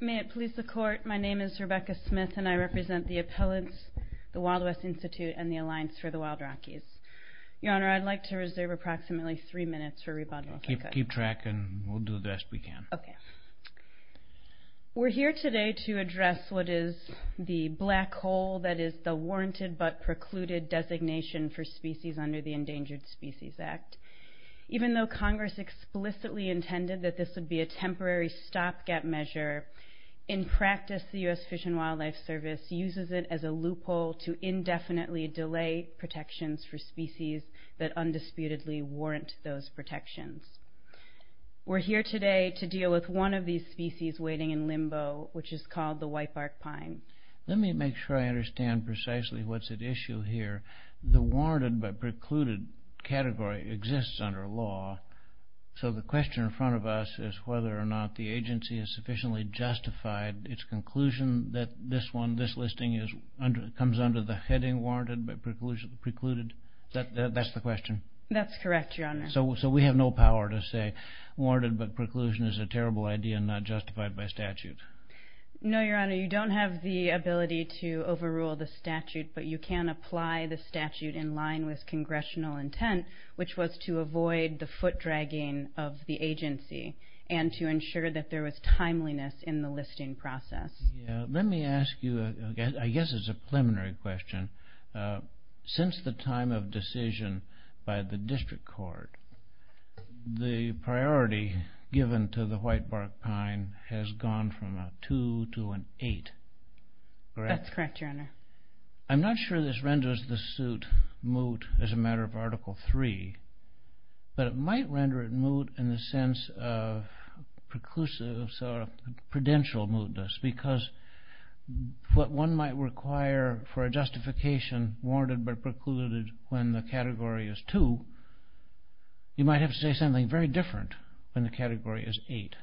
May it please the court, my name is Rebecca Smith and I represent the appellants, the Wild West Institute and the Alliance for the Wild Rockies. Your Honor, I'd like to reserve approximately three minutes for rebuttal. Keep track and we'll do the best we can. Okay. We're here today to address what is the black hole that is the warranted but precluded designation for species under the that this would be a temporary stopgap measure. In practice the U.S. Fish and Wildlife Service uses it as a loophole to indefinitely delay protections for species that undisputedly warrant those protections. We're here today to deal with one of these species waiting in limbo which is called the whitebark pine. Let me make sure I understand precisely what's at issue here. The warranted but precluded designation for a species under the heading warranted but precluded. The question for us is whether or not the agency has sufficiently justified its conclusion that this one this listing is under comes under the heading warranted but precluded. That's the question? That's correct, Your Honor. So we have no power to say warranted but preclusion is a terrible idea not justified by statute. No, Your Honor. You don't have the ability to overrule the statute but you can apply the statute in line with congressional intent which was to avoid the foot dragging of the agency and to ensure that there was timeliness in the listing process. Let me ask you, I guess it's a preliminary question, since the time of decision by the district court the priority given to the whitebark pine has gone from a 2 to an 8. That's correct, Your Honor. I'm not sure this renders the suit moot as a matter of Article 3 but it might render it moot in the sense of preclusives or prudential mootness because what one might require for a justification warranted but precluded when the category is 2, you might have to say something very different when the category is 8.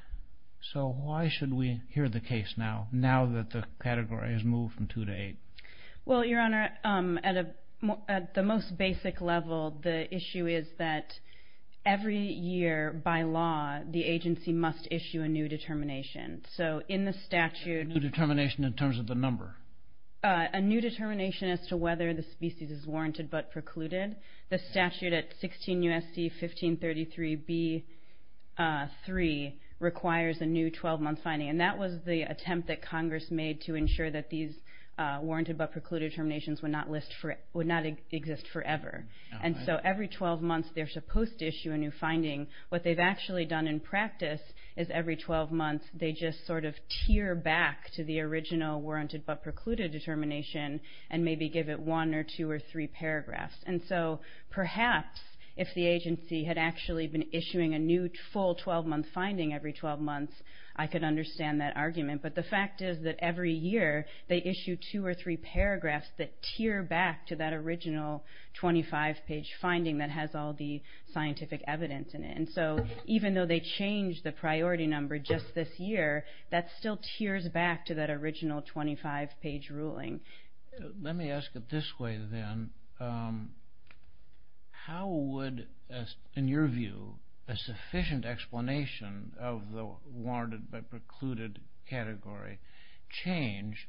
So why should we hear the case now, now that the category has moved from 2 to 8? Well, Your Honor, at the most basic level the issue is that every year by law the agency must issue a new determination. So in the statute... A new determination in terms of the number? A new determination as to whether the species is warranted but precluded. The Article 3b.3 requires a new 12-month finding and that was the attempt that Congress made to ensure that these warranted but precluded terminations would not exist forever. And so every 12 months they're supposed to issue a new finding. What they've actually done in practice is every 12 months they just sort of tear back to the original warranted but precluded determination and maybe give it one or two or three paragraphs. And so perhaps if the agency had actually been issuing a new full 12-month finding every 12 months I could understand that argument. But the fact is that every year they issue two or three paragraphs that tear back to that original 25-page finding that has all the scientific evidence in it. And so even though they changed the priority number just this year, that still tears back to that original 25-page ruling. Let me ask it this way then. How would, in your view, a sufficient explanation of the warranted but precluded category change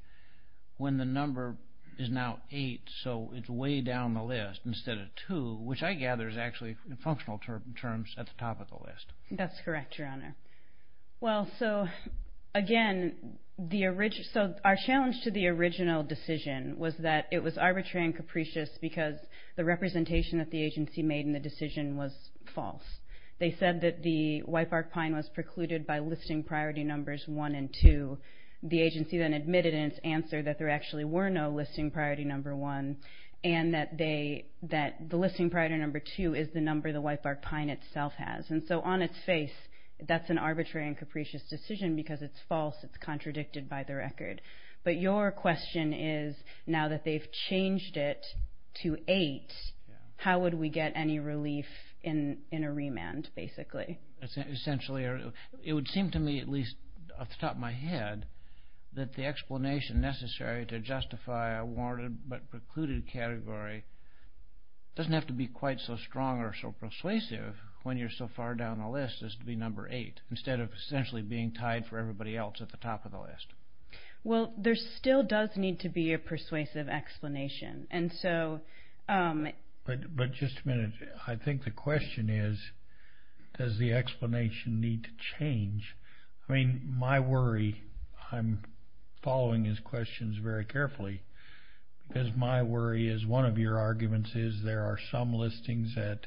when the number is now eight so it's way down the list instead of two, which I gather is actually in functional terms at the top of the list. That's correct, Your Honor. Well, so again, so our challenge to the original decision was that it was arbitrary and capricious because the representation that the agency made in the decision was false. They said that the whitebark pine was precluded by listing priority numbers one and two. The agency then admitted in its answer that there actually were no listing priority number one and that the listing priority number two is the number the whitebark pine itself has. And so on its face, that's an arbitrary and capricious decision because it's false. It's contradicted by the record. But your question is, now that they've changed it to eight, how would we get any relief in a remand, basically? Essentially, it would seem to me, at least off the top of my head, that the explanation necessary to justify a warranted but precluded category doesn't have to be quite so on the list as to be number eight instead of essentially being tied for everybody else at the top of the list. Well, there still does need to be a persuasive explanation. But just a minute, I think the question is, does the explanation need to change? I mean, my worry, I'm following his questions very carefully, because my worry is one of your arguments is there are some listings at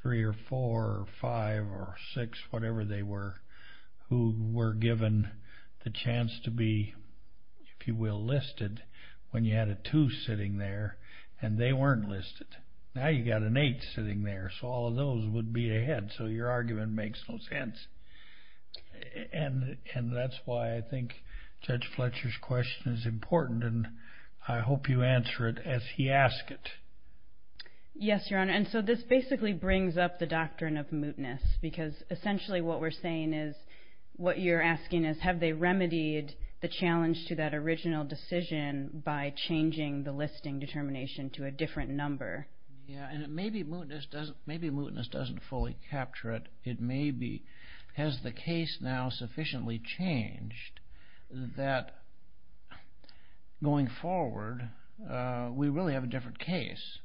three or four or five or six, whatever they were, who were given the chance to be, if you will, listed when you had a two sitting there and they weren't listed. Now you got an eight sitting there, so all of those would be ahead. So your argument makes no sense. And that's why I think Judge Yes, Your Honor, and so this basically brings up the doctrine of mootness, because essentially what we're saying is, what you're asking is, have they remedied the challenge to that original decision by changing the listing determination to a different number? Yeah, and it may be mootness doesn't, maybe mootness doesn't fully capture it. It may be, has the case now sufficiently changed that going forward, we really have a different case.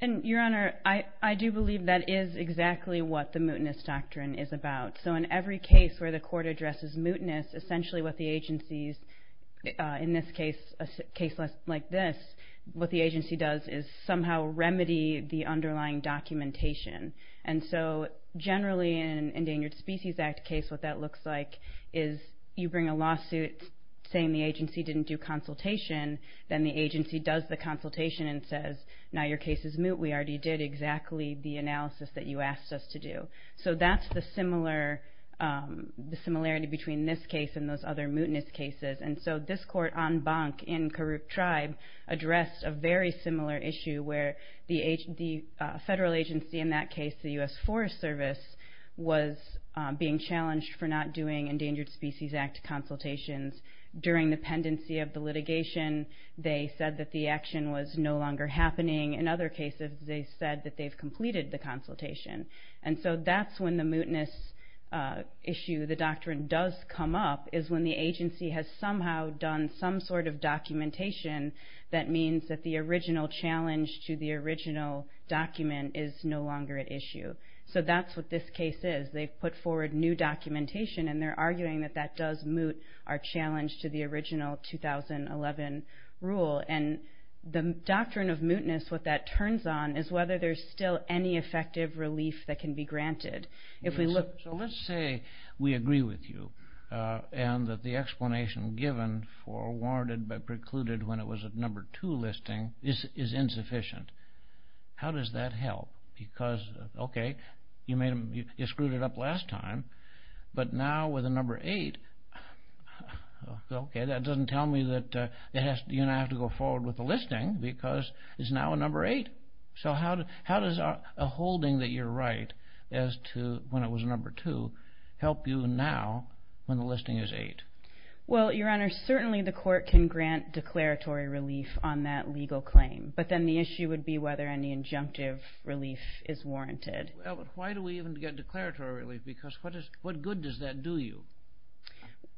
And Your Honor, I do believe that is exactly what the mootness doctrine is about. So in every case where the court addresses mootness, essentially what the agency's, in this case, a case like this, what the agency does is somehow remedy the underlying documentation. And so generally in an Endangered Species Act case, what that looks like is you bring a consultation, then the agency does the consultation and says, now your case is moot, we already did exactly the analysis that you asked us to do. So that's the similar, the similarity between this case and those other mootness cases. And so this court, en banc in Karuk Tribe, addressed a very similar issue where the federal agency in that case, the U.S. Forest Service, was being challenged for not doing Endangered Species Act consultations during the pendency of the litigation. They said that the action was no longer happening. In other cases, they said that they've completed the consultation. And so that's when the mootness issue, the doctrine does come up, is when the agency has somehow done some sort of documentation that means that the original challenge to the original document is no longer at issue. So that's what this case is. They've put forward new documentation and they're arguing that that does moot our challenge to the original 2011 rule. And the doctrine of mootness, what that turns on, is whether there's still any effective relief that can be granted. If we look... So let's say we agree with you and that the explanation given for warranted but precluded when it was a number two listing is insufficient. How does that help? Because, okay, you screwed it up last time, but now with a number eight, okay, that doesn't tell me that you don't have to go forward with the listing because it's now a number eight. So how does a holding that you're right as to when it was a number two help you now when the listing is eight? Well, Your Honor, certainly the court can grant declaratory relief on that legal claim, but then the issue would be whether any injunctive relief is warranted. Why do we even get declaratory relief? Because what good does that do you?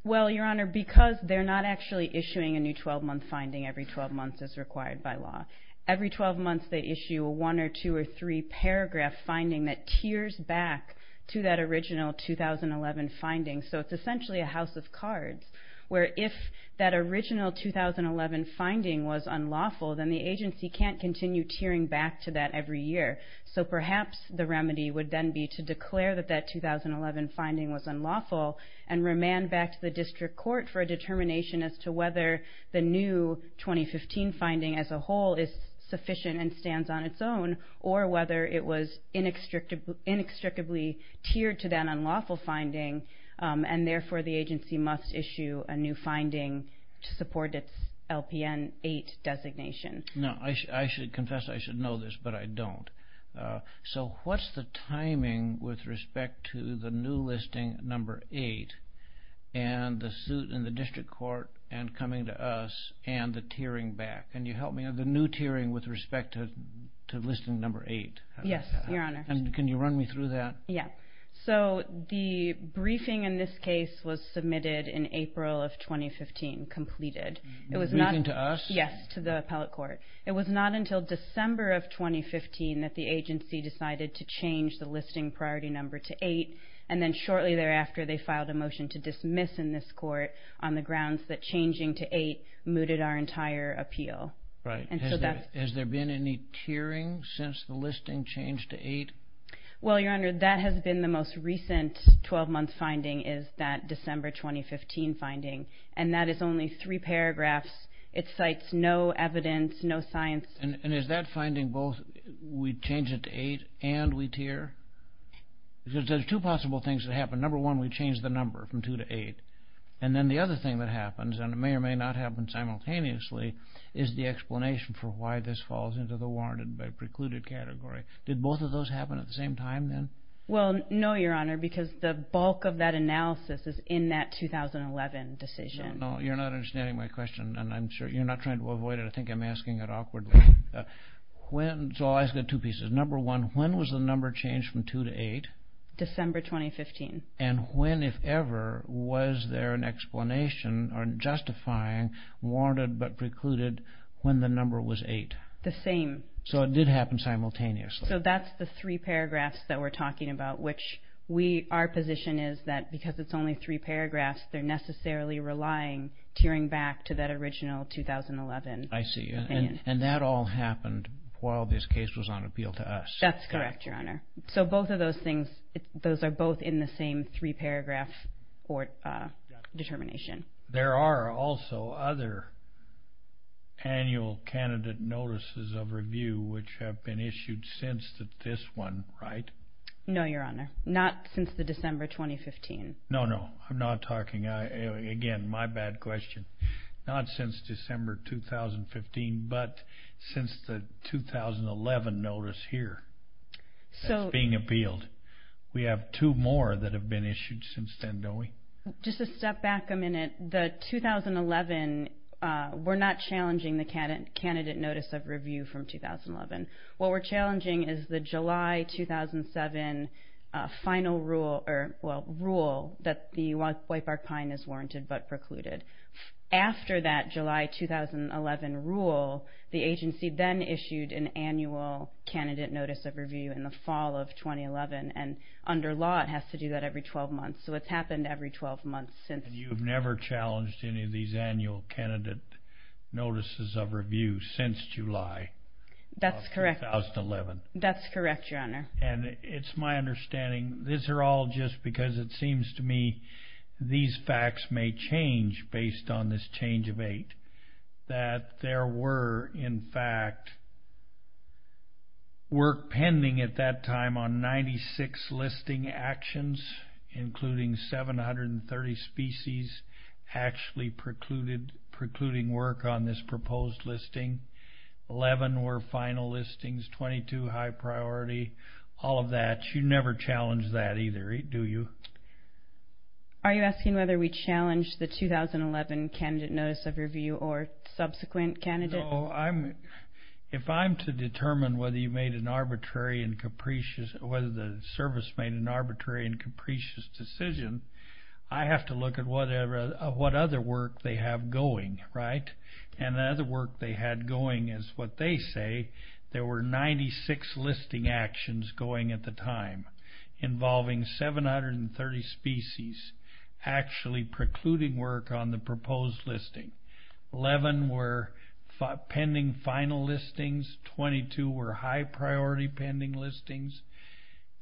Well, Your Honor, because they're not actually issuing a new 12-month finding every 12 months as required by law. Every 12 months they issue a one or two or three paragraph finding that tears back to that original 2011 finding. So it's essentially a house of cards, where if that original 2011 finding was unlawful, then the agency can't continue tearing back to that every year. So perhaps the remedy would then be to declare that that 2011 finding was unlawful and remand back to the district court for a determination as to whether the new 2015 finding as a whole is sufficient and stands on its own, or whether it was inextricably tiered to that unlawful finding, and therefore the agency must issue a new finding to support its LPN eight designation. Now, I should confess I should know this, but I don't. So what's the timing with respect to the new listing number eight, and the suit in the district court, and coming to us, and the tearing back? Can you help me? The new tearing with respect to listing number eight. Yes, Your Honor. And can you run me through that? Yeah. So the briefing in this case was submitted in April of 2015, completed. It was not... Briefing to us? Yes, to the appellate court. It was not until December of 2015 that the agency decided to change the listing priority number to eight, and then shortly thereafter they filed a motion to dismiss in this court on the grounds that changing to eight mooted our entire appeal. Right. And so that... Has there been any tearing since the listing changed to eight? Well, Your Honor, that has been the most recent 12-month finding is that December 2015 finding, and that is only three paragraphs. It cites no evidence, no science. And is that finding both we change it to eight and we tear? Because there's two possible things that happen. Number one, we change the number from two to eight, and then the other thing that happens, and it may or may not happen simultaneously, is the explanation for why this falls into the warranted by precluded category. Did both of those happen at the same time then? Well, no, Your Honor, because the bulk of that analysis is in that 2011 decision. No, you're not understanding my question, and I'm sure you're not trying to avoid it. I know it's awkward. When... So I've got two pieces. Number one, when was the number changed from two to eight? December 2015. And when, if ever, was there an explanation or justifying warranted but precluded when the number was eight? The same. So it did happen simultaneously. So that's the three paragraphs that we're talking about, which we... Our position is that because it's only three paragraphs, they're necessarily relying, tearing back to that original 2011. I see. And that all happened while this case was on appeal to us. That's correct, Your Honor. So both of those things, those are both in the same three-paragraph court determination. There are also other annual candidate notices of review which have been issued since this one, right? No, Your Honor, not since the December 2015. No, no, I'm not talking... Again, my bad question. Not since December 2015, but since the 2011 notice here that's being appealed. We have two more that have been issued since then, don't we? Just to step back a minute, the 2011, we're not challenging the candidate notice of review from 2011. What we're challenging is the July 2007 final rule that the Whitebark-Pine is the agency then issued an annual candidate notice of review in the fall of 2011. And under law, it has to do that every 12 months. So it's happened every 12 months since... And you've never challenged any of these annual candidate notices of review since July of 2011? That's correct, Your Honor. And it's my understanding, these are all just because it seems to me these facts may change based on this change of eight, that there were in fact work pending at that time on 96 listing actions, including 730 species actually precluding work on this proposed listing. Eleven were final listings, 22 high priority, all of that. You never challenged that either, do you? Are you asking whether we challenged the 2011 candidate notice of review or subsequent candidates? No, if I'm to determine whether you made an arbitrary and capricious, whether the service made an arbitrary and capricious decision, I have to look at whatever, what other work they have going, right? And the other work they had going is what they say, there were 96 listing actions going at the time, involving 730 species actually precluding work on the proposed listing. Eleven were pending final listings, 22 were high priority pending listings.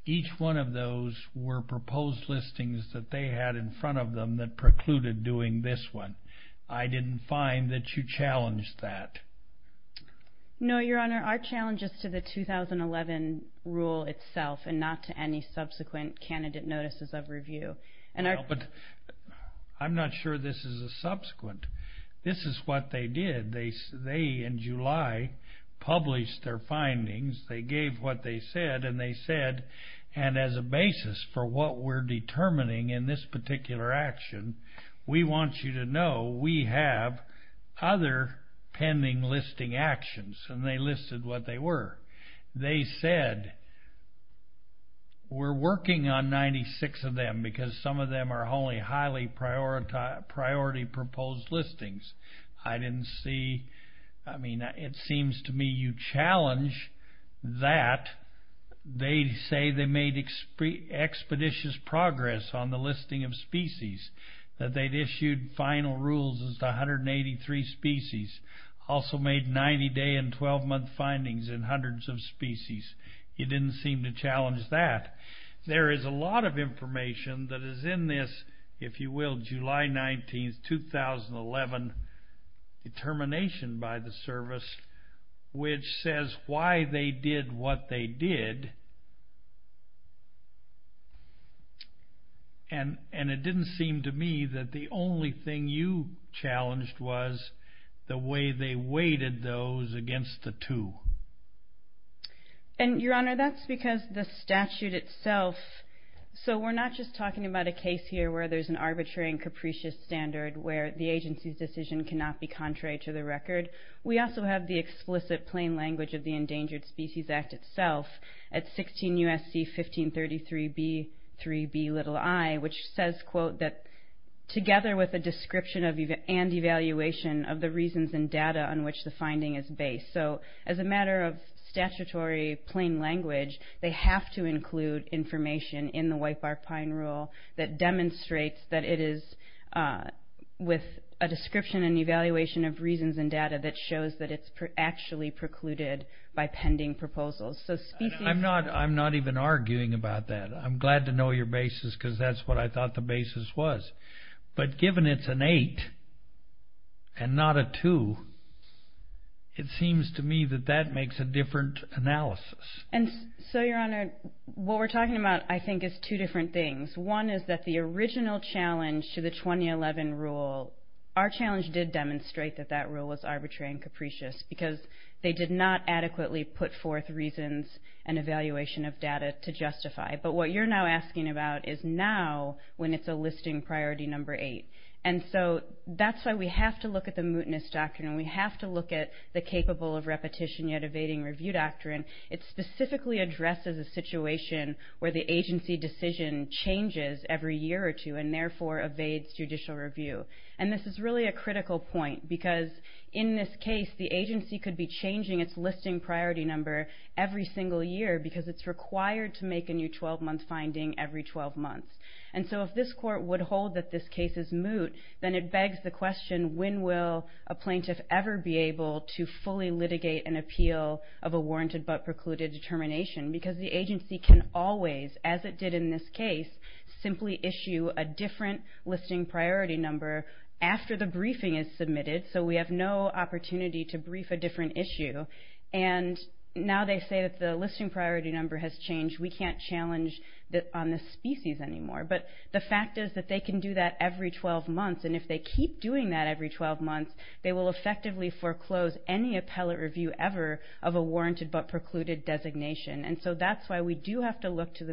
Each one of those were proposed listings that they had in front of them that precluded doing this one. I didn't find that you challenged that. No, Your Honor, our challenge is to the 2011 rule itself and not to any subsequent candidate notices of review. I'm not sure this is a subsequent. This is what they did. They, in July, published their findings. They gave what they said and they said, and as a basis for what we're determining in this particular action, we want you to know we have other pending listing actions. And they listed what they were. They said, we're working on 96 of them because some of them are only highly priority proposed listings. I didn't see, I mean, it seems to me you challenge that. They say they made expeditious progress on the listing of species, that they'd issued final rules as 183 species, also made 90-day and 12-month findings in hundreds of species. You didn't seem to challenge that. There is a lot of information that is in this, if you will, July 19, 2011 determination by the service which says why they did what they did. And it didn't seem to me that the only thing you challenged was the way they weighted those against the two. And, Your Honor, that's because the statute itself, so we're not just talking about a case here where there's an arbitrary and capricious standard where the agency's decision cannot be contrary to the record. We also have the explicit plain language of the Endangered Species Act itself at 16 U.S.C. 1533 B.3.B.i, which says, quote, that together with a description and evaluation of the reasons and data on which the finding is based. So as a matter of statutory plain language, they have to include information in the Wipe Our Pine Rule that demonstrates that it is with a description and evaluation of reasons and data that shows that it's actually precluded by pending proposals. I'm not even arguing about that. I'm glad to know your basis because that's what I thought the basis was. But given it's an 8 and not a 2, it seems to me that that makes a different analysis. And so, Your Honor, what we're talking about I think is two different things. One is that the original challenge to the 2011 rule, our challenge did demonstrate that that rule was arbitrary and capricious because they did not adequately put forth reasons and evaluation of data to justify. But what you're now asking about is now when it's a listing priority number 8. And so that's why we have to look at the mootness doctrine. We have to look at the capable of repetition yet evading review doctrine. It specifically addresses a situation where the agency decision changes every year or two and therefore evades judicial review. And this is really a critical point because in this case, the agency could be changing its listing priority number every single year because it's required to make a new 12-month finding every 12 months. And so if this court would hold that this case is moot, then it begs the question when will a plaintiff ever be able to fully litigate an appeal of a warranted but precluded determination because the agency can always, as it did in this case, simply issue a different listing priority number after the briefing is submitted. So we have no opportunity to brief a different issue. And now they say that the listing priority number has changed. We can't challenge on the species anymore. But the fact is that they can do that every 12 months. And if they keep doing that every 12 months, they will effectively foreclose any appellate review ever of a warranted but precluded designation. And so that's why we do have to look to the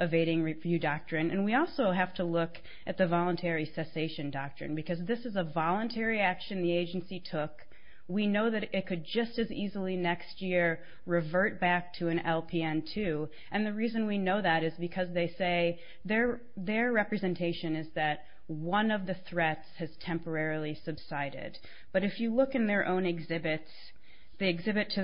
Evading Review Doctrine. And we also have to look at the Voluntary Cessation Doctrine because this is a voluntary action the agency took. We know that it could just as easily next year revert back to an LPN2. And the reason we know that is because they say their representation is that one of the threats has temporarily subsided. But if you look in their own exhibits, the exhibit to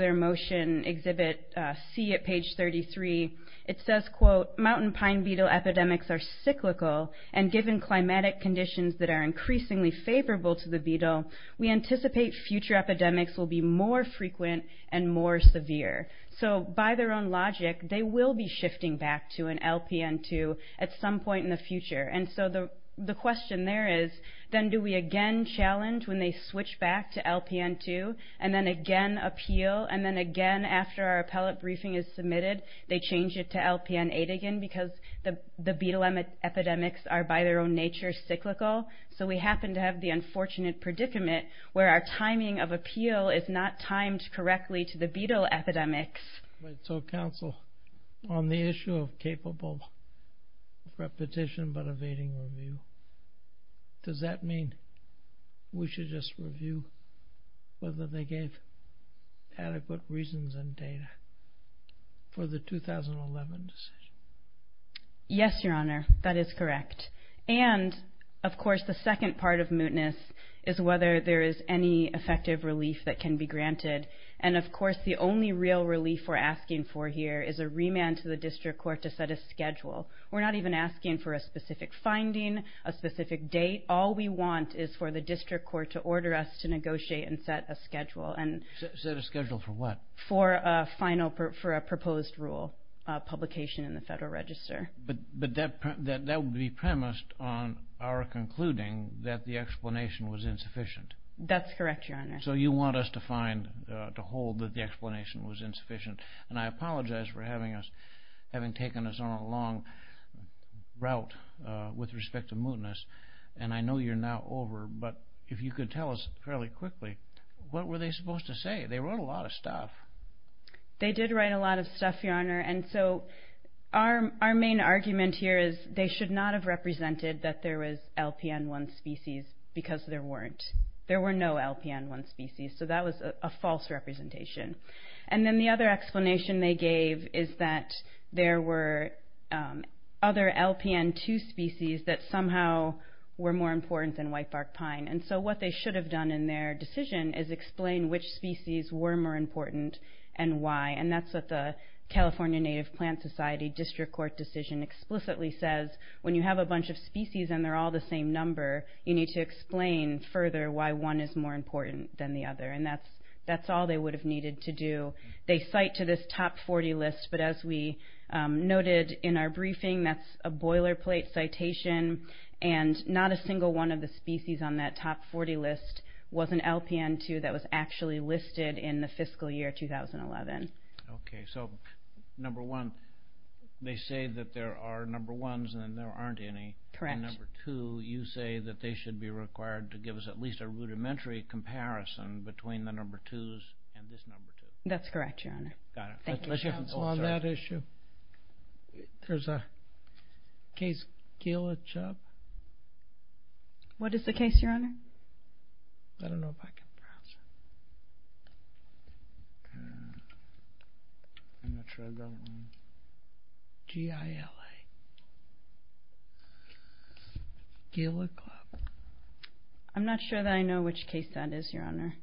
mountain pine beetle epidemics are cyclical. And given climatic conditions that are increasingly favorable to the beetle, we anticipate future epidemics will be more frequent and more severe. So by their own logic, they will be shifting back to an LPN2 at some point in the future. And so the question there is, then do we again challenge when they switch back to LPN2, and then again appeal, and then again after our appellate briefing is submitted, they change it to LPN8 again because the beetle epidemics are by their own nature cyclical. So we happen to have the unfortunate predicament where our timing of appeal is not timed correctly to the beetle epidemics. Right. So counsel, on the issue of capable repetition but evading review, does that mean we should just review whether they gave adequate reasons and data for the 2011 decision? Yes, your honor. That is correct. And of course, the second part of mootness is whether there is any effective relief that can be granted. And of course, the only real relief we're asking for here is a remand to the district court to set a schedule. We're not even asking for a specific finding, a specific date. All we want is for the district court to order us to negotiate and set a schedule. Set a schedule for what? For a final, for a proposed rule publication in the Federal Register. But that would be premised on our concluding that the explanation was insufficient. That's correct, your honor. So you want us to find, to hold that the explanation was insufficient. And I apologize for having us, having taken us on a long route with respect to mootness. And I know you're now over, but if you could tell us fairly much stuff. They did write a lot of stuff, your honor. And so our main argument here is they should not have represented that there was LPN1 species because there weren't. There were no LPN1 species. So that was a false representation. And then the other explanation they gave is that there were other LPN2 species that somehow were more important than whitebark pine. And so what they should have done in their decision is explain which species were more important and why. And that's what the California Native Plant Society District Court decision explicitly says. When you have a bunch of species and they're all the same number, you need to explain further why one is more important than the other. And that's all they would have needed to do. They cite to this top 40 list, but as we noted in our briefing, that's a boilerplate citation. And not a single one of the species on that top 40 list was an LPN2 that was actually listed in the fiscal year 2011. Okay. So, number one, they say that there are number ones and there aren't any. Correct. And number two, you say that they should be required to give us at least a rudimentary comparison between the number twos and this number two. That's correct, your honor. Got it. Thank you. Let's hear from... On that issue, there's a case, Kayla Chubb. What is the case, your honor? I don't know if I can pronounce it. I'm not sure I've got one. G-I-L-A. Kayla Chubb. I'm not sure that I know which case that is, your honor.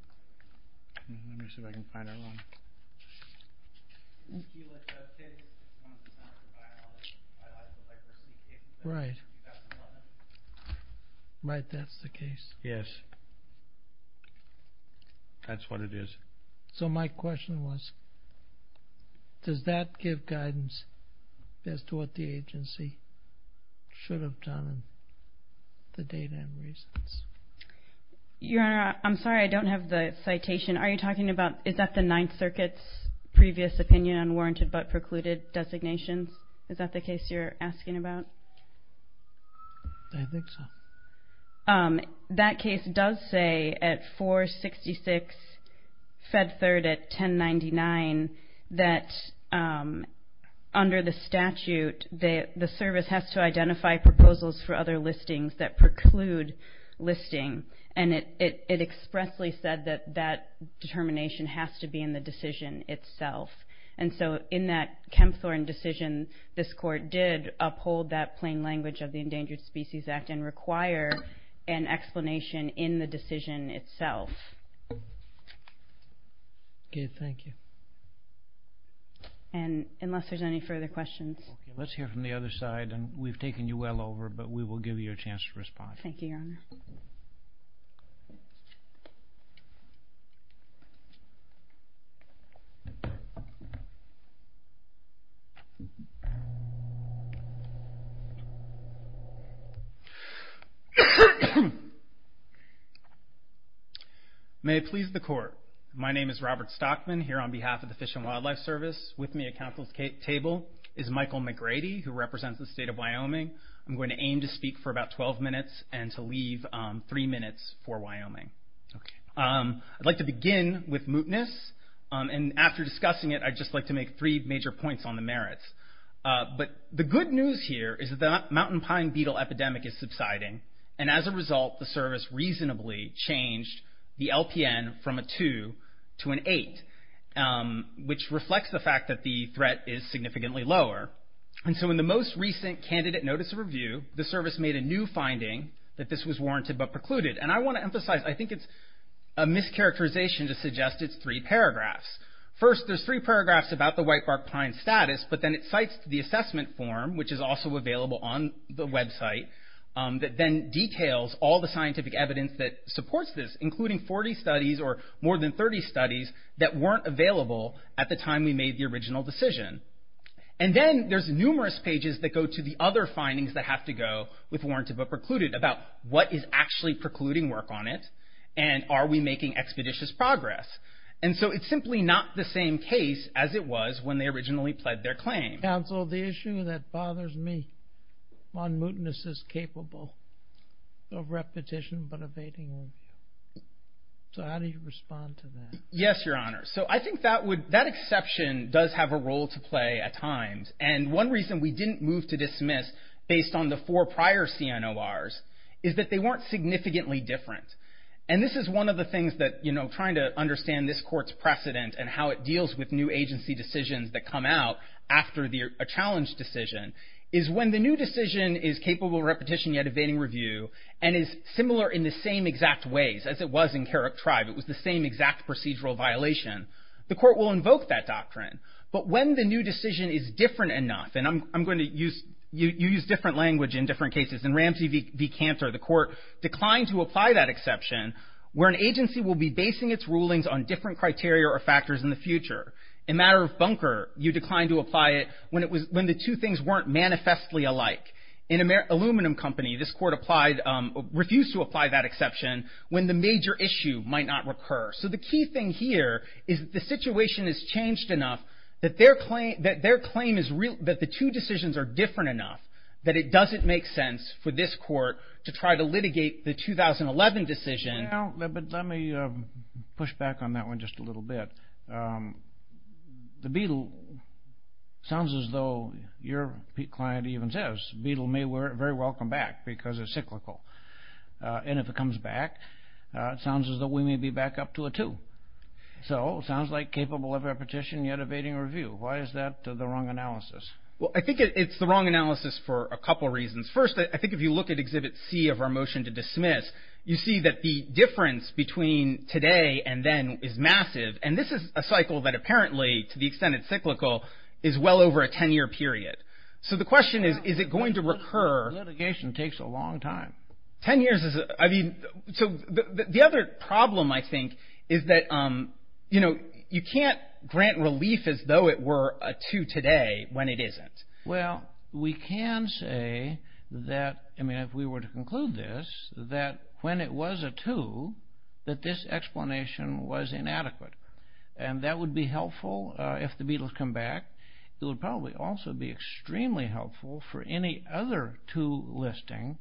Let me see if I can find her one. Kayla Chubb's case is one that's not in the biological diversity case. Right. Right, that's the case. Yes. That's what it is. So my question was, does that give guidance as to what the agency should have done, the data and reasons? Your honor, I'm sorry, I don't have the citation. Are you talking about, is that the Ninth Circuit's previous opinion on warranted but precluded designations? Is that the case you're asking about? I think so. That case does say at 466 Fed Third at 1099 that under the statute, the service has to identify proposals for other listings that preclude listing, and it expressly said that that determination has to be in the decision itself. And so in that Kempthorne decision, this court did uphold that plain language of the Endangered Species Act and require an explanation in the decision itself. Okay, thank you. And unless there's any further questions. Okay, let's hear from the other side, and we've taken you well over, but we will give you a chance to respond. Thank you, your honor. May it please the court. My name is Robert Stockman, here on behalf of the Fish and Wildlife Service. With me at counsel's table is Michael McGrady, who represents the state of Wyoming. I'm going to aim to speak for about 12 minutes and to leave three minutes for Wyoming. I'd like to begin with mootness. And after discussing it, I'd just like to make three major points on the merits. But the good news here is that the mountain pine beetle epidemic is subsiding, and as a result, the service reasonably changed the LPN from a two to an eight, which reflects the fact that the threat is significantly lower. And so in the most recent candidate notice of review, the service made a new finding that this was warranted but precluded. And I want to emphasize, I think it's a mischaracterization to suggest it's three paragraphs. First, there's three paragraphs about the whitebark pine status, but then it cites the assessment form, which is also available on the website, that then details all the scientific evidence that supports this, including 40 studies or more than 30 studies that weren't available at the time we made the original decision. And then there's numerous pages that go to the other findings that have to go with warranted but precluded about what is actually precluding work on it and are we making expeditious progress. And so it's simply not the same case as it was when they originally pled their claim. Counsel, the issue that bothers me on mootness is capable of repetition but evading. So how do you respond to that? Yes, Your Honor. So I think that exception does have a role to play at times. And one reason we didn't move to dismiss based on the four prior CNORs is that they weren't significantly different. And this is one of the things that, you know, trying to understand this court's precedent and how it deals with new agency decisions that come out after a challenge decision is when the new decision is capable of repetition yet evading review and is similar in the same exact ways as it was in Carrick Tribe. It was the same exact procedural violation. The court will invoke that doctrine. But when the new decision is different enough, and I'm going to use you use different language in different cases. In Ramsey v. Cantor, the court declined to apply that exception where an agency will be basing its rulings on different criteria or factors in the future. In Matter of Bunker, you declined to apply it when the two things weren't manifestly alike. In Aluminum Company, this court refused to apply that exception when the major issue might not recur. So the key thing here is the situation has changed enough that their claim is real, that the two decisions are different enough that it doesn't make sense for this court to try to litigate the 2011 decision. Well, let me push back on that one just a little bit. The beetle sounds as though your client even says beetle may very well come back because it's cyclical. And if it comes back, it sounds as though we may be back up to a two. So it sounds like capable of repetition yet evading review. Why is that the wrong analysis? Well, I think it's the wrong analysis for a couple reasons. First, I think if you look at Exhibit C of our motion to dismiss, you see that the difference between today and then is massive. And this is a cycle that apparently, to the extent it's cyclical, is well over a 10-year period. So the question is, is it going to recur? Litigation takes a long time. Ten years is a – I mean, so the other problem, I think, is that, you know, you can't grant relief as though it were a two today when it isn't. Well, we can say that, I mean, if we were to conclude this, that when it was a two, that this explanation was inadequate. And that would be helpful if the beetles come back. It would probably also be extremely helpful for any other two listing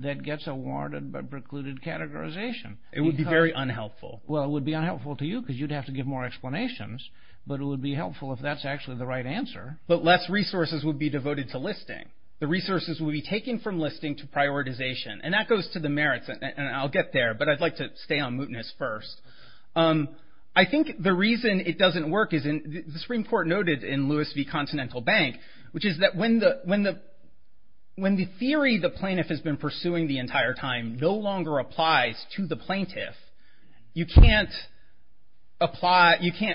that gets a warranted but precluded categorization. It would be very unhelpful. Well, it would be unhelpful to you because you'd have to give more explanations. But it would be helpful if that's actually the right answer. But less resources would be devoted to listing. The resources would be taken from listing to prioritization. And that goes to the merits, and I'll get there, but I'd like to stay on mootness first. I think the reason it doesn't work is, the Supreme Court noted in Lewis v. Continental Bank, which is that when the theory the plaintiff has been pursuing the entire time no longer applies to the plaintiff, you can't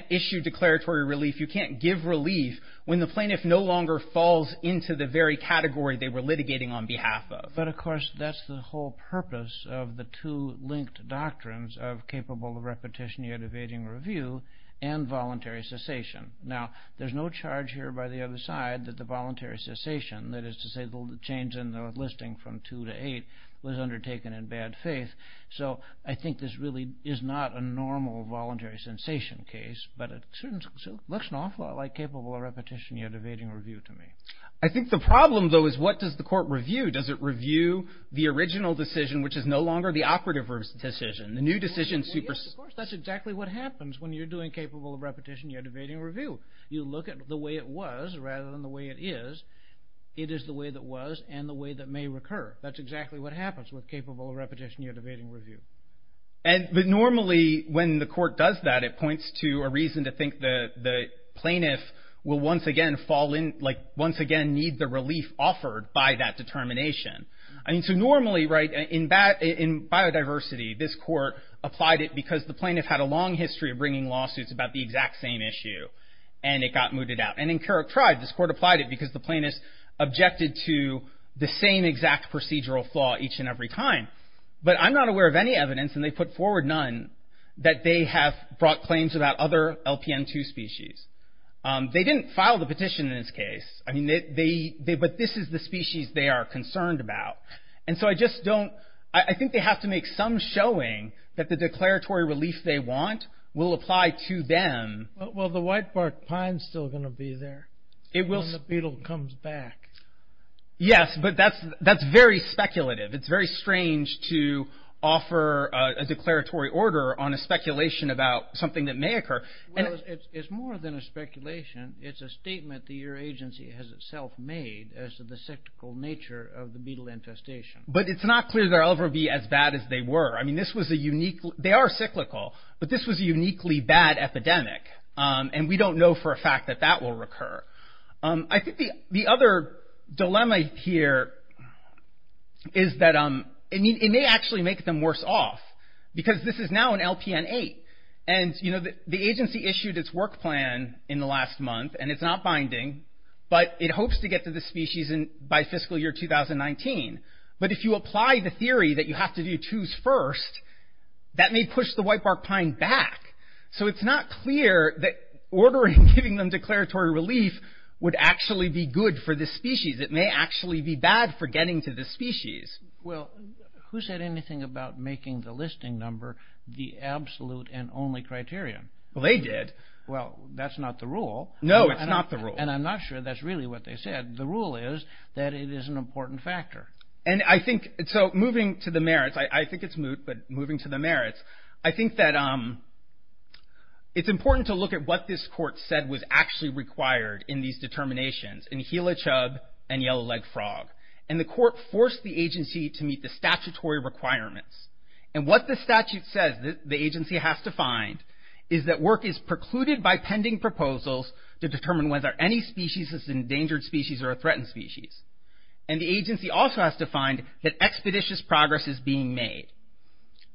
issue declaratory relief, you can't give relief when the plaintiff no longer falls into the very category they were litigating on behalf of. But, of course, that's the whole purpose of the two linked doctrines of capable of repetition, yet evading review, and voluntary cessation. Now, there's no charge here by the other side that the voluntary cessation, that is to say the change in the listing from two to eight, was undertaken in bad faith. So I think this really is not a normal voluntary cessation case, but it looks an awful lot like capable of repetition, yet evading review to me. I think the problem, though, is what does the court review? Does it review the original decision, which is no longer the operative decision? The new decision supersedes. Of course, that's exactly what happens when you're doing capable of repetition, yet evading review. You look at the way it was rather than the way it is. It is the way that was and the way that may recur. That's exactly what happens with capable of repetition, yet evading review. Normally, when the court does that, it points to a reason to think the plaintiff will once again fall in, like once again need the relief offered by that determination. I mean, so normally, right, in biodiversity, this court applied it because the plaintiff had a long history of bringing lawsuits about the exact same issue, and it got mooted out. And in Keurig Tribe, this court applied it because the plaintiff objected to the same exact procedural flaw each and every time. But I'm not aware of any evidence, and they put forward none, that they have brought claims about other LPN2 species. They didn't file the petition in this case, but this is the species they are concerned about. And so I just don't, I think they have to make some showing that the declaratory relief they want will apply to them. Well, the whitebark pine's still going to be there when the beetle comes back. Yes, but that's very speculative. It's very strange to offer a declaratory order on a speculation about something that may occur. Well, it's more than a speculation. It's a statement that your agency has itself made as to the cyclical nature of the beetle infestation. But it's not clear they'll ever be as bad as they were. I mean, this was a unique, they are cyclical, but this was a uniquely bad epidemic, and we don't know for a fact that that will recur. I think the other dilemma here is that it may actually make them worse off, because this is now an LPN8. And the agency issued its work plan in the last month, and it's not binding, but it hopes to get to the species by fiscal year 2019. But if you apply the theory that you have to do twos first, that may push the whitebark pine back. So it's not clear that ordering and giving them declaratory relief would actually be good for this species. It may actually be bad for getting to this species. Well, who said anything about making the listing number the absolute and only criterion? Well, they did. Well, that's not the rule. No, it's not the rule. And I'm not sure that's really what they said. The rule is that it is an important factor. And I think, so moving to the merits, I think it's moot, but moving to the merits, I think that it's important to look at what this court said was actually required in these determinations, in Gila chub and yellow-legged frog. And the court forced the agency to meet the statutory requirements. And what the statute says that the agency has to find is that work is precluded by pending proposals to determine whether any species is an endangered species or a threatened species. And the agency also has to find that expeditious progress is being made.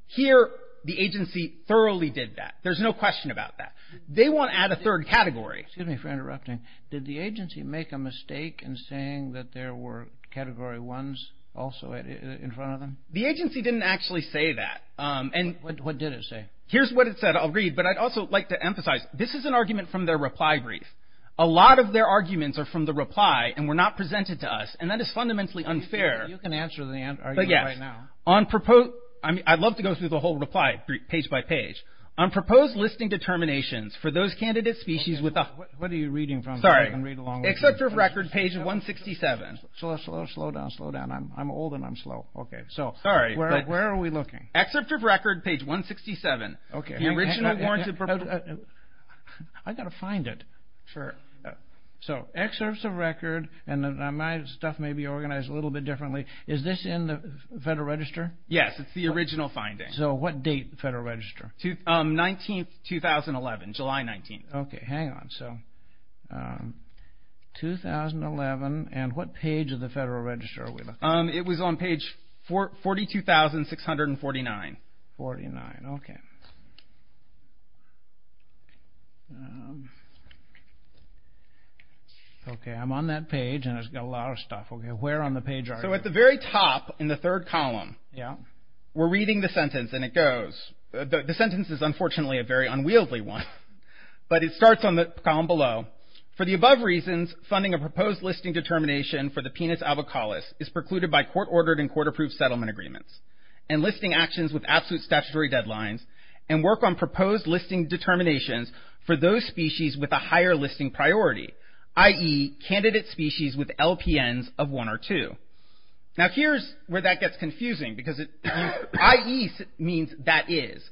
Here, the agency thoroughly did that. There's no question about that. They want to add a third category. Excuse me for interrupting. Did the agency make a mistake in saying that there were Category 1s also in front of them? The agency didn't actually say that. What did it say? Here's what it said. I'll read, but I'd also like to emphasize, this is an argument from their reply brief. A lot of their arguments are from the reply and were not presented to us, and that is fundamentally unfair. You can answer the argument right now. I'd love to go through the whole reply page by page. On proposed listing determinations for those candidate species with a... What are you reading from? Sorry. I can read along with you. Excerpt of record, page 167. Slow down, slow down. I'm old and I'm slow. Okay. Sorry, but where are we looking? Excerpt of record, page 167. Okay. I've got to find it. Sure. Excerpts of record, and my stuff may be organized a little bit differently. Is this in the Federal Register? Yes, it's the original finding. So, what date, Federal Register? 19th, 2011, July 19th. Okay, hang on. So, 2011, and what page of the Federal Register are we looking at? It was on page 42,649. 42,649, okay. Okay, I'm on that page, and it's got a lot of stuff. Okay, where on the page are you? So, at the very top, in the third column, we're reading the sentence, and it goes. The sentence is, unfortunately, a very unwieldy one, but it starts on the column below. For the above reasons, funding a proposed listing determination for the penis albicolus is precluded by court-ordered and court-approved settlement agreements, enlisting actions with absolute statutory deadlines, and work on proposed listing determinations for those species with a higher listing priority, i.e., candidate species with LPNs of one or two. Now, here's where that gets confusing, because i.e. means that is.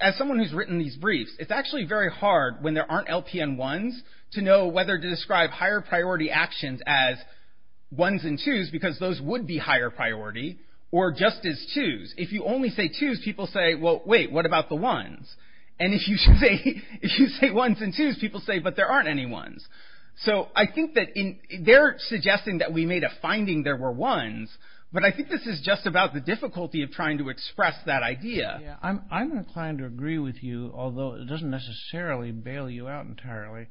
As someone who's written these briefs, it's actually very hard, when there aren't LPN1s, to know whether to describe higher priority actions as 1s and 2s, because those would be higher priority, or just as 2s. If you only say 2s, people say, well, wait, what about the 1s? And if you say 1s and 2s, people say, but there aren't any 1s. So I think that they're suggesting that we made a finding there were 1s, but I think this is just about the difficulty of trying to express that idea. I'm inclined to agree with you, although it doesn't necessarily bail you out entirely.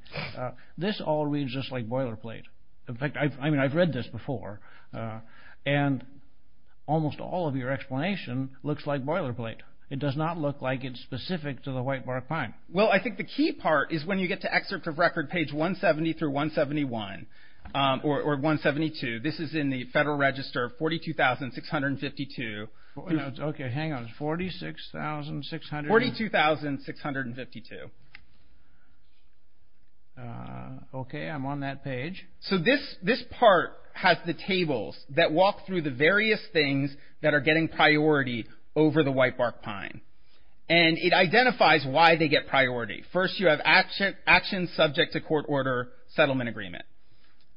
This all reads just like boilerplate. In fact, I've read this before, and almost all of your explanation looks like boilerplate. It does not look like it's specific to the whitebark pine. Well, I think the key part is when you get to excerpt of record, page 170 through 171, or 172. This is in the Federal Register, 42,652. Okay, hang on. It's 46,600? 42,652. Okay, I'm on that page. So this part has the tables that walk through the various things that are getting priority over the whitebark pine. And it identifies why they get priority. First, you have actions subject to court order settlement agreement.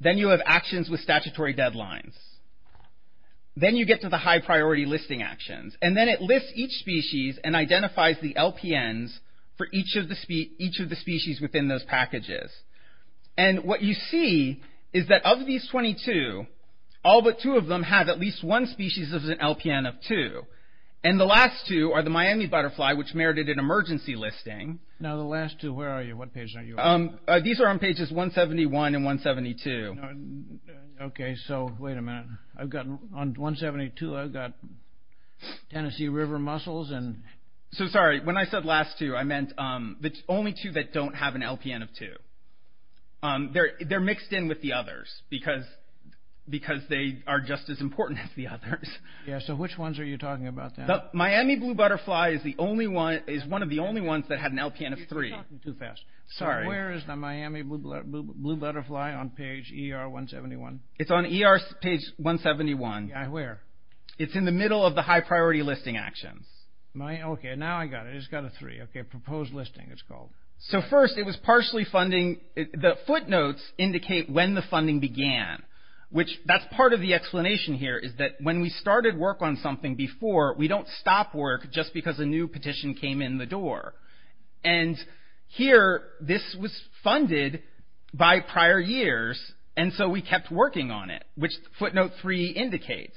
Then you have actions with statutory deadlines. Then you get to the high-priority listing actions. And then it lists each species and identifies the LPNs for each of the species within those packages. And what you see is that of these 22, all but two of them have at least one species that has an LPN of 2. And the last two are the Miami butterfly, which merited an emergency listing. Now the last two, where are you? What page are you on? These are on pages 171 and 172. Okay, so wait a minute. On 172, I've got Tennessee river mussels. So sorry, when I said last two, I meant the only two that don't have an LPN of 2. They're mixed in with the others because they are just as important as the others. Yeah, so which ones are you talking about then? The Miami blue butterfly is one of the only ones that had an LPN of 3. You're talking too fast. Sorry. Where is the Miami blue butterfly on page ER 171? It's on ER page 171. Yeah, where? It's in the middle of the high priority listing actions. Okay, now I got it. It's got a 3. Okay, proposed listing it's called. So first it was partially funding. The footnotes indicate when the funding began, which that's part of the explanation here is that when we started work on something before, we don't stop work just because a new petition came in the door. And here this was funded by prior years, and so we kept working on it, which footnote 3 indicates.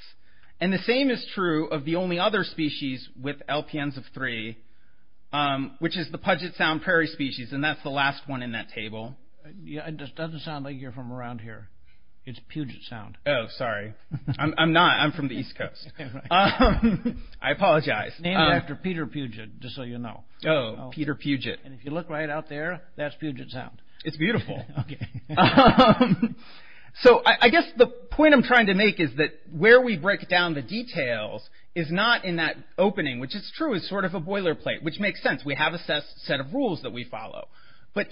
And the same is true of the only other species with LPNs of 3, which is the Puget Sound prairie species, and that's the last one in that table. It doesn't sound like you're from around here. It's Puget Sound. Oh, sorry. I'm not. I'm from the East Coast. I apologize. Name it after Peter Puget, just so you know. Oh, Peter Puget. And if you look right out there, that's Puget Sound. It's beautiful. Okay. So I guess the point I'm trying to make is that where we break down the details is not in that opening, which is true. It's sort of a boilerplate, which makes sense. We have a set of rules that we follow. But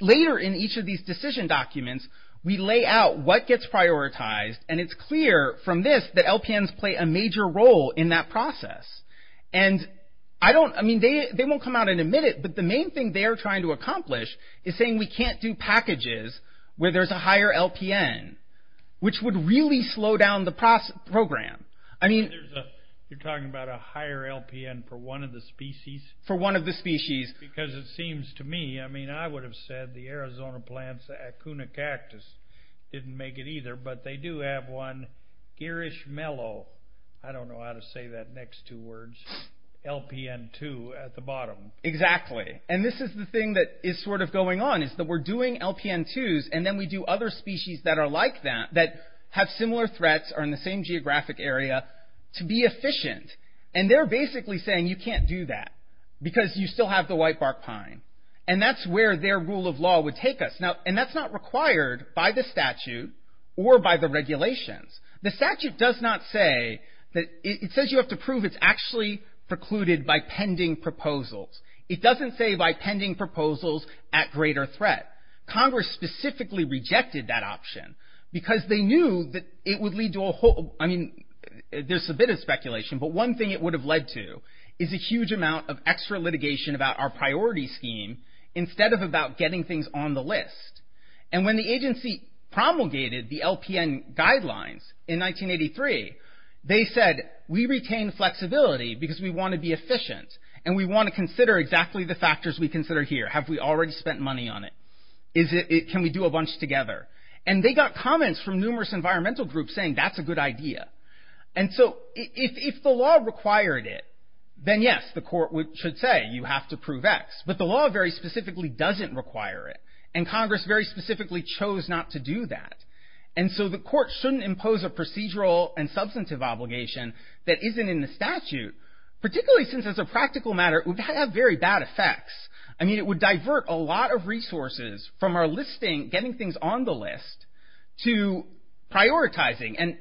later in each of these decision documents, we lay out what gets prioritized, and it's clear from this that LPNs play a major role in that process. And I mean, they won't come out and admit it, but the main thing they are trying to accomplish is saying we can't do packages where there's a higher LPN, which would really slow down the program. I mean… You're talking about a higher LPN for one of the species? For one of the species. Because it seems to me, I mean, I would have said the Arizona plants, the Acuna cactus didn't make it either, but they do have one Girish Mellow, I don't know how to say that next two words, LPN2 at the bottom. Exactly. And this is the thing that is sort of going on, is that we're doing LPN2s, and then we do other species that are like that, that have similar threats, are in the same geographic area, to be efficient. And they're basically saying you can't do that, because you still have the whitebark pine. And that's where their rule of law would take us. And that's not required by the statute or by the regulations. The statute does not say that, it says you have to prove it's actually precluded by pending proposals. It doesn't say by pending proposals at greater threat. Congress specifically rejected that option, because they knew that it would lead to a whole, I mean, there's a bit of speculation, but one thing it would have led to, is a huge amount of extra litigation about our priority scheme, instead of about getting things on the list. And when the agency promulgated the LPN guidelines in 1983, they said we retain flexibility because we want to be efficient, and we want to consider exactly the factors we consider here. Have we already spent money on it? Can we do a bunch together? And they got comments from numerous environmental groups saying that's a good idea. And so if the law required it, then yes, the court should say you have to prove X. But the law very specifically doesn't require it. And Congress very specifically chose not to do that. And so the court shouldn't impose a procedural and substantive obligation that isn't in the statute, particularly since, as a practical matter, it would have very bad effects. I mean, it would divert a lot of resources from our listing, getting things on the list, to prioritizing. And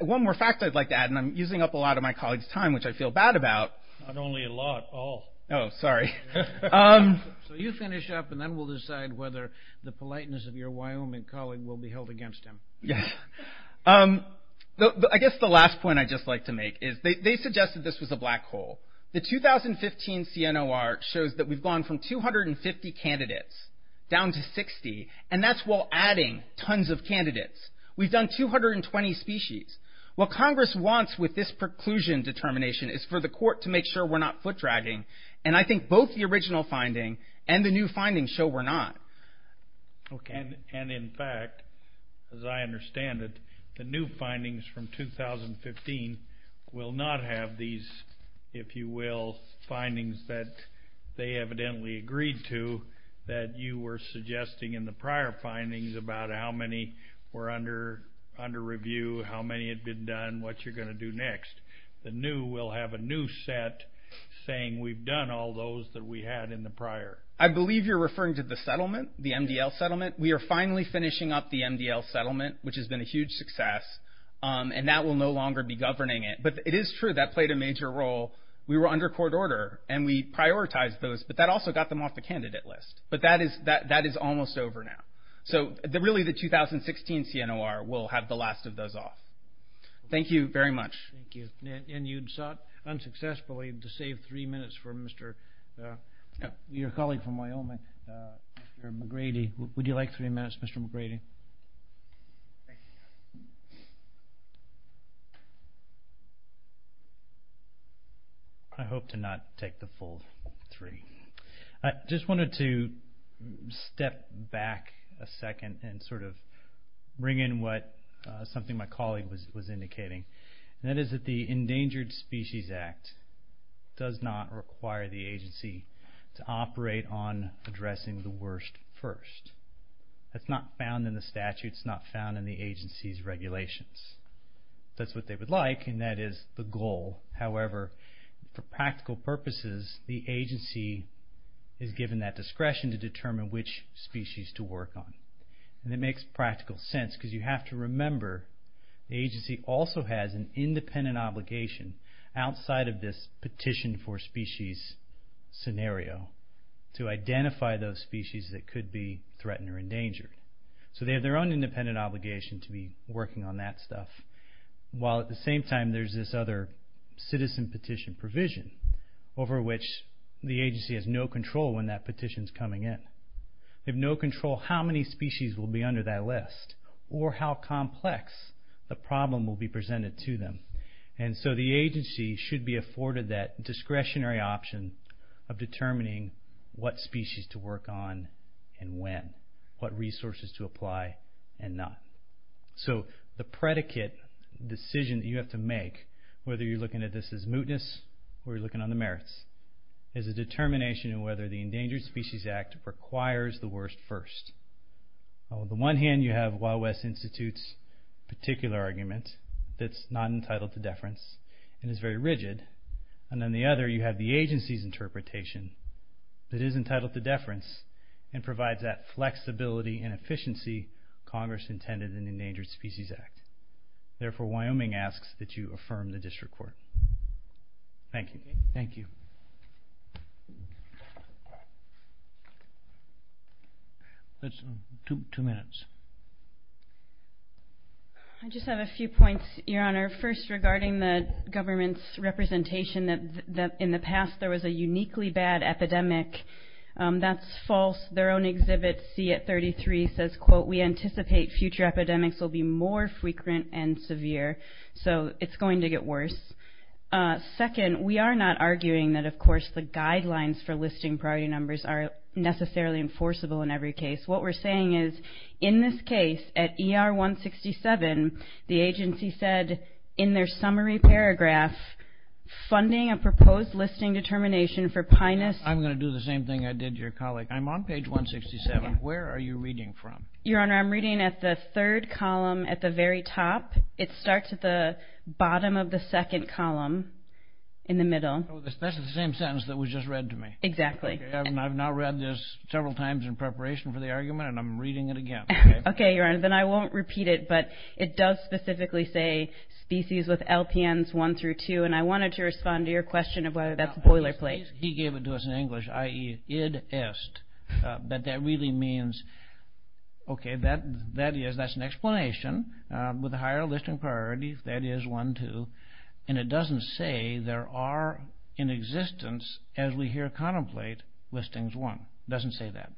one more fact I'd like to add, and I'm using up a lot of my colleagues' time, which I feel bad about. Not only a lot, all. Oh, sorry. So you finish up, and then we'll decide whether the politeness of your Wyoming colleague will be held against him. Yeah. I guess the last point I'd just like to make is they suggested this was a black hole. The 2015 CNOR shows that we've gone from 250 candidates down to 60, and that's while adding tons of candidates. We've done 220 species. What Congress wants with this preclusion determination is for the court to make sure we're not foot-dragging, and I think both the original finding and the new finding show we're not. Okay. And, in fact, as I understand it, the new findings from 2015 will not have these, if you will, findings that they evidently agreed to that you were suggesting in the prior findings about how many were under review, how many had been done, what you're going to do next. The new will have a new set saying we've done all those that we had in the prior. I believe you're referring to the settlement, the MDL settlement. We are finally finishing up the MDL settlement, which has been a huge success, and that will no longer be governing it. But it is true that played a major role. We were under court order, and we prioritized those, but that also got them off the candidate list. But that is almost over now. So, really, the 2016 CNOR will have the last of those off. Thank you very much. Thank you. And you'd sought, unsuccessfully, to save three minutes for your colleague from Wyoming, Mr. McGrady. Would you like three minutes, Mr. McGrady? I hope to not take the full three. I just wanted to step back a second and sort of bring in something my colleague was indicating. That is that the Endangered Species Act does not require the agency to operate on addressing the worst first. That's not found in the statute. It's not found in the agency's regulations. That's what they would like, and that is the goal. However, for practical purposes, the agency is given that discretion to determine which species to work on. And it makes practical sense, because you have to remember the agency also has an independent obligation, outside of this petition for species scenario, to identify those species that could be threatened or endangered. So they have their own independent obligation to be working on that stuff, while at the same time there's this other citizen petition provision, over which the agency has no control when that petition's coming in. They have no control how many species will be under that list, or how complex the problem will be presented to them. And so the agency should be afforded that discretionary option of determining what species to work on and when, what resources to apply and not. So the predicate decision that you have to make, whether you're looking at this as mootness or you're looking on the merits, is a determination of whether the Endangered Species Act requires the worst first. On the one hand, you have Wild West Institute's particular argument that's not entitled to deference and is very rigid. And on the other, you have the agency's interpretation that is entitled to deference and provides that flexibility and efficiency Congress intended in the Endangered Species Act. Therefore, Wyoming asks that you affirm the district court. Thank you. Thank you. Two minutes. I just have a few points, Your Honor. First, regarding the government's representation that in the past there was a uniquely bad epidemic. That's false. Their own exhibit C at 33 says, quote, we anticipate future epidemics will be more frequent and severe. So it's going to get worse. Second, we are not arguing that, of course, the guidelines for listing priority numbers are necessarily enforceable in every case. What we're saying is in this case, at ER 167, the agency said in their summary paragraph, funding a proposed listing determination for Pinus. I'm going to do the same thing I did to your colleague. I'm on page 167. Where are you reading from? Your Honor, I'm reading at the third column at the very top. It starts at the bottom of the second column in the middle. That's the same sentence that was just read to me. Exactly. I've now read this several times in preparation for the argument, and I'm reading it again. Okay, Your Honor. Then I won't repeat it, but it does specifically say species with LPNs 1 through 2, and I wanted to respond to your question of whether that's a boilerplate. He gave it to us in English, i.e., id est. But that really means, okay, that is, that's an explanation. With a higher listing priority, that is 1, 2. And it doesn't say there are in existence, as we hear contemplate, listings 1. It doesn't say that.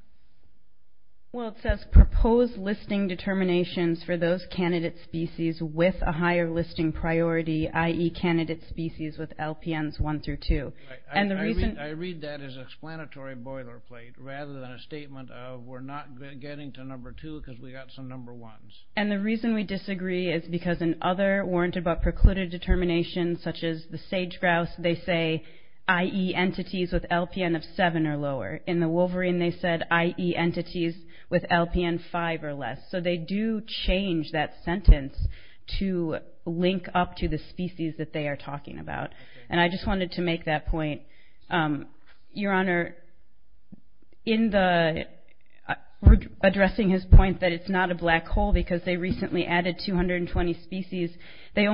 Well, it says proposed listing determinations for those candidate species with a higher listing priority, i.e., candidate species with LPNs 1 through 2. I read that as an explanatory boilerplate rather than a statement of we're not getting to number 2 because we got some number 1s. And the reason we disagree is because in other warranted but precluded determinations, such as the sage-grouse, they say, i.e., entities with LPN of 7 or lower. In the wolverine, they said, i.e., entities with LPN 5 or less. So they do change that sentence to link up to the species that they are talking about. And I just wanted to make that point. Your Honor, in addressing his point that it's not a black hole because they recently added 220 species, because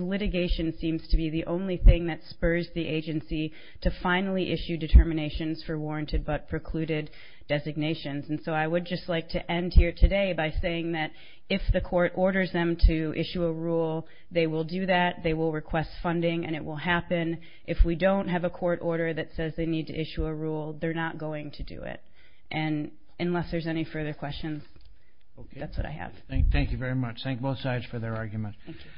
litigation seems to be the only thing that spurs the agency to finally issue determinations for warranted but precluded designations. And so I would just like to end here today by saying that if the court orders them to issue a rule, they will do that, they will request funding, and it will happen. If we don't have a court order that says they need to issue a rule, they're not going to do it. And unless there's any further questions, that's what I have. Thank you very much. Thank both sides for their argument. Thank you.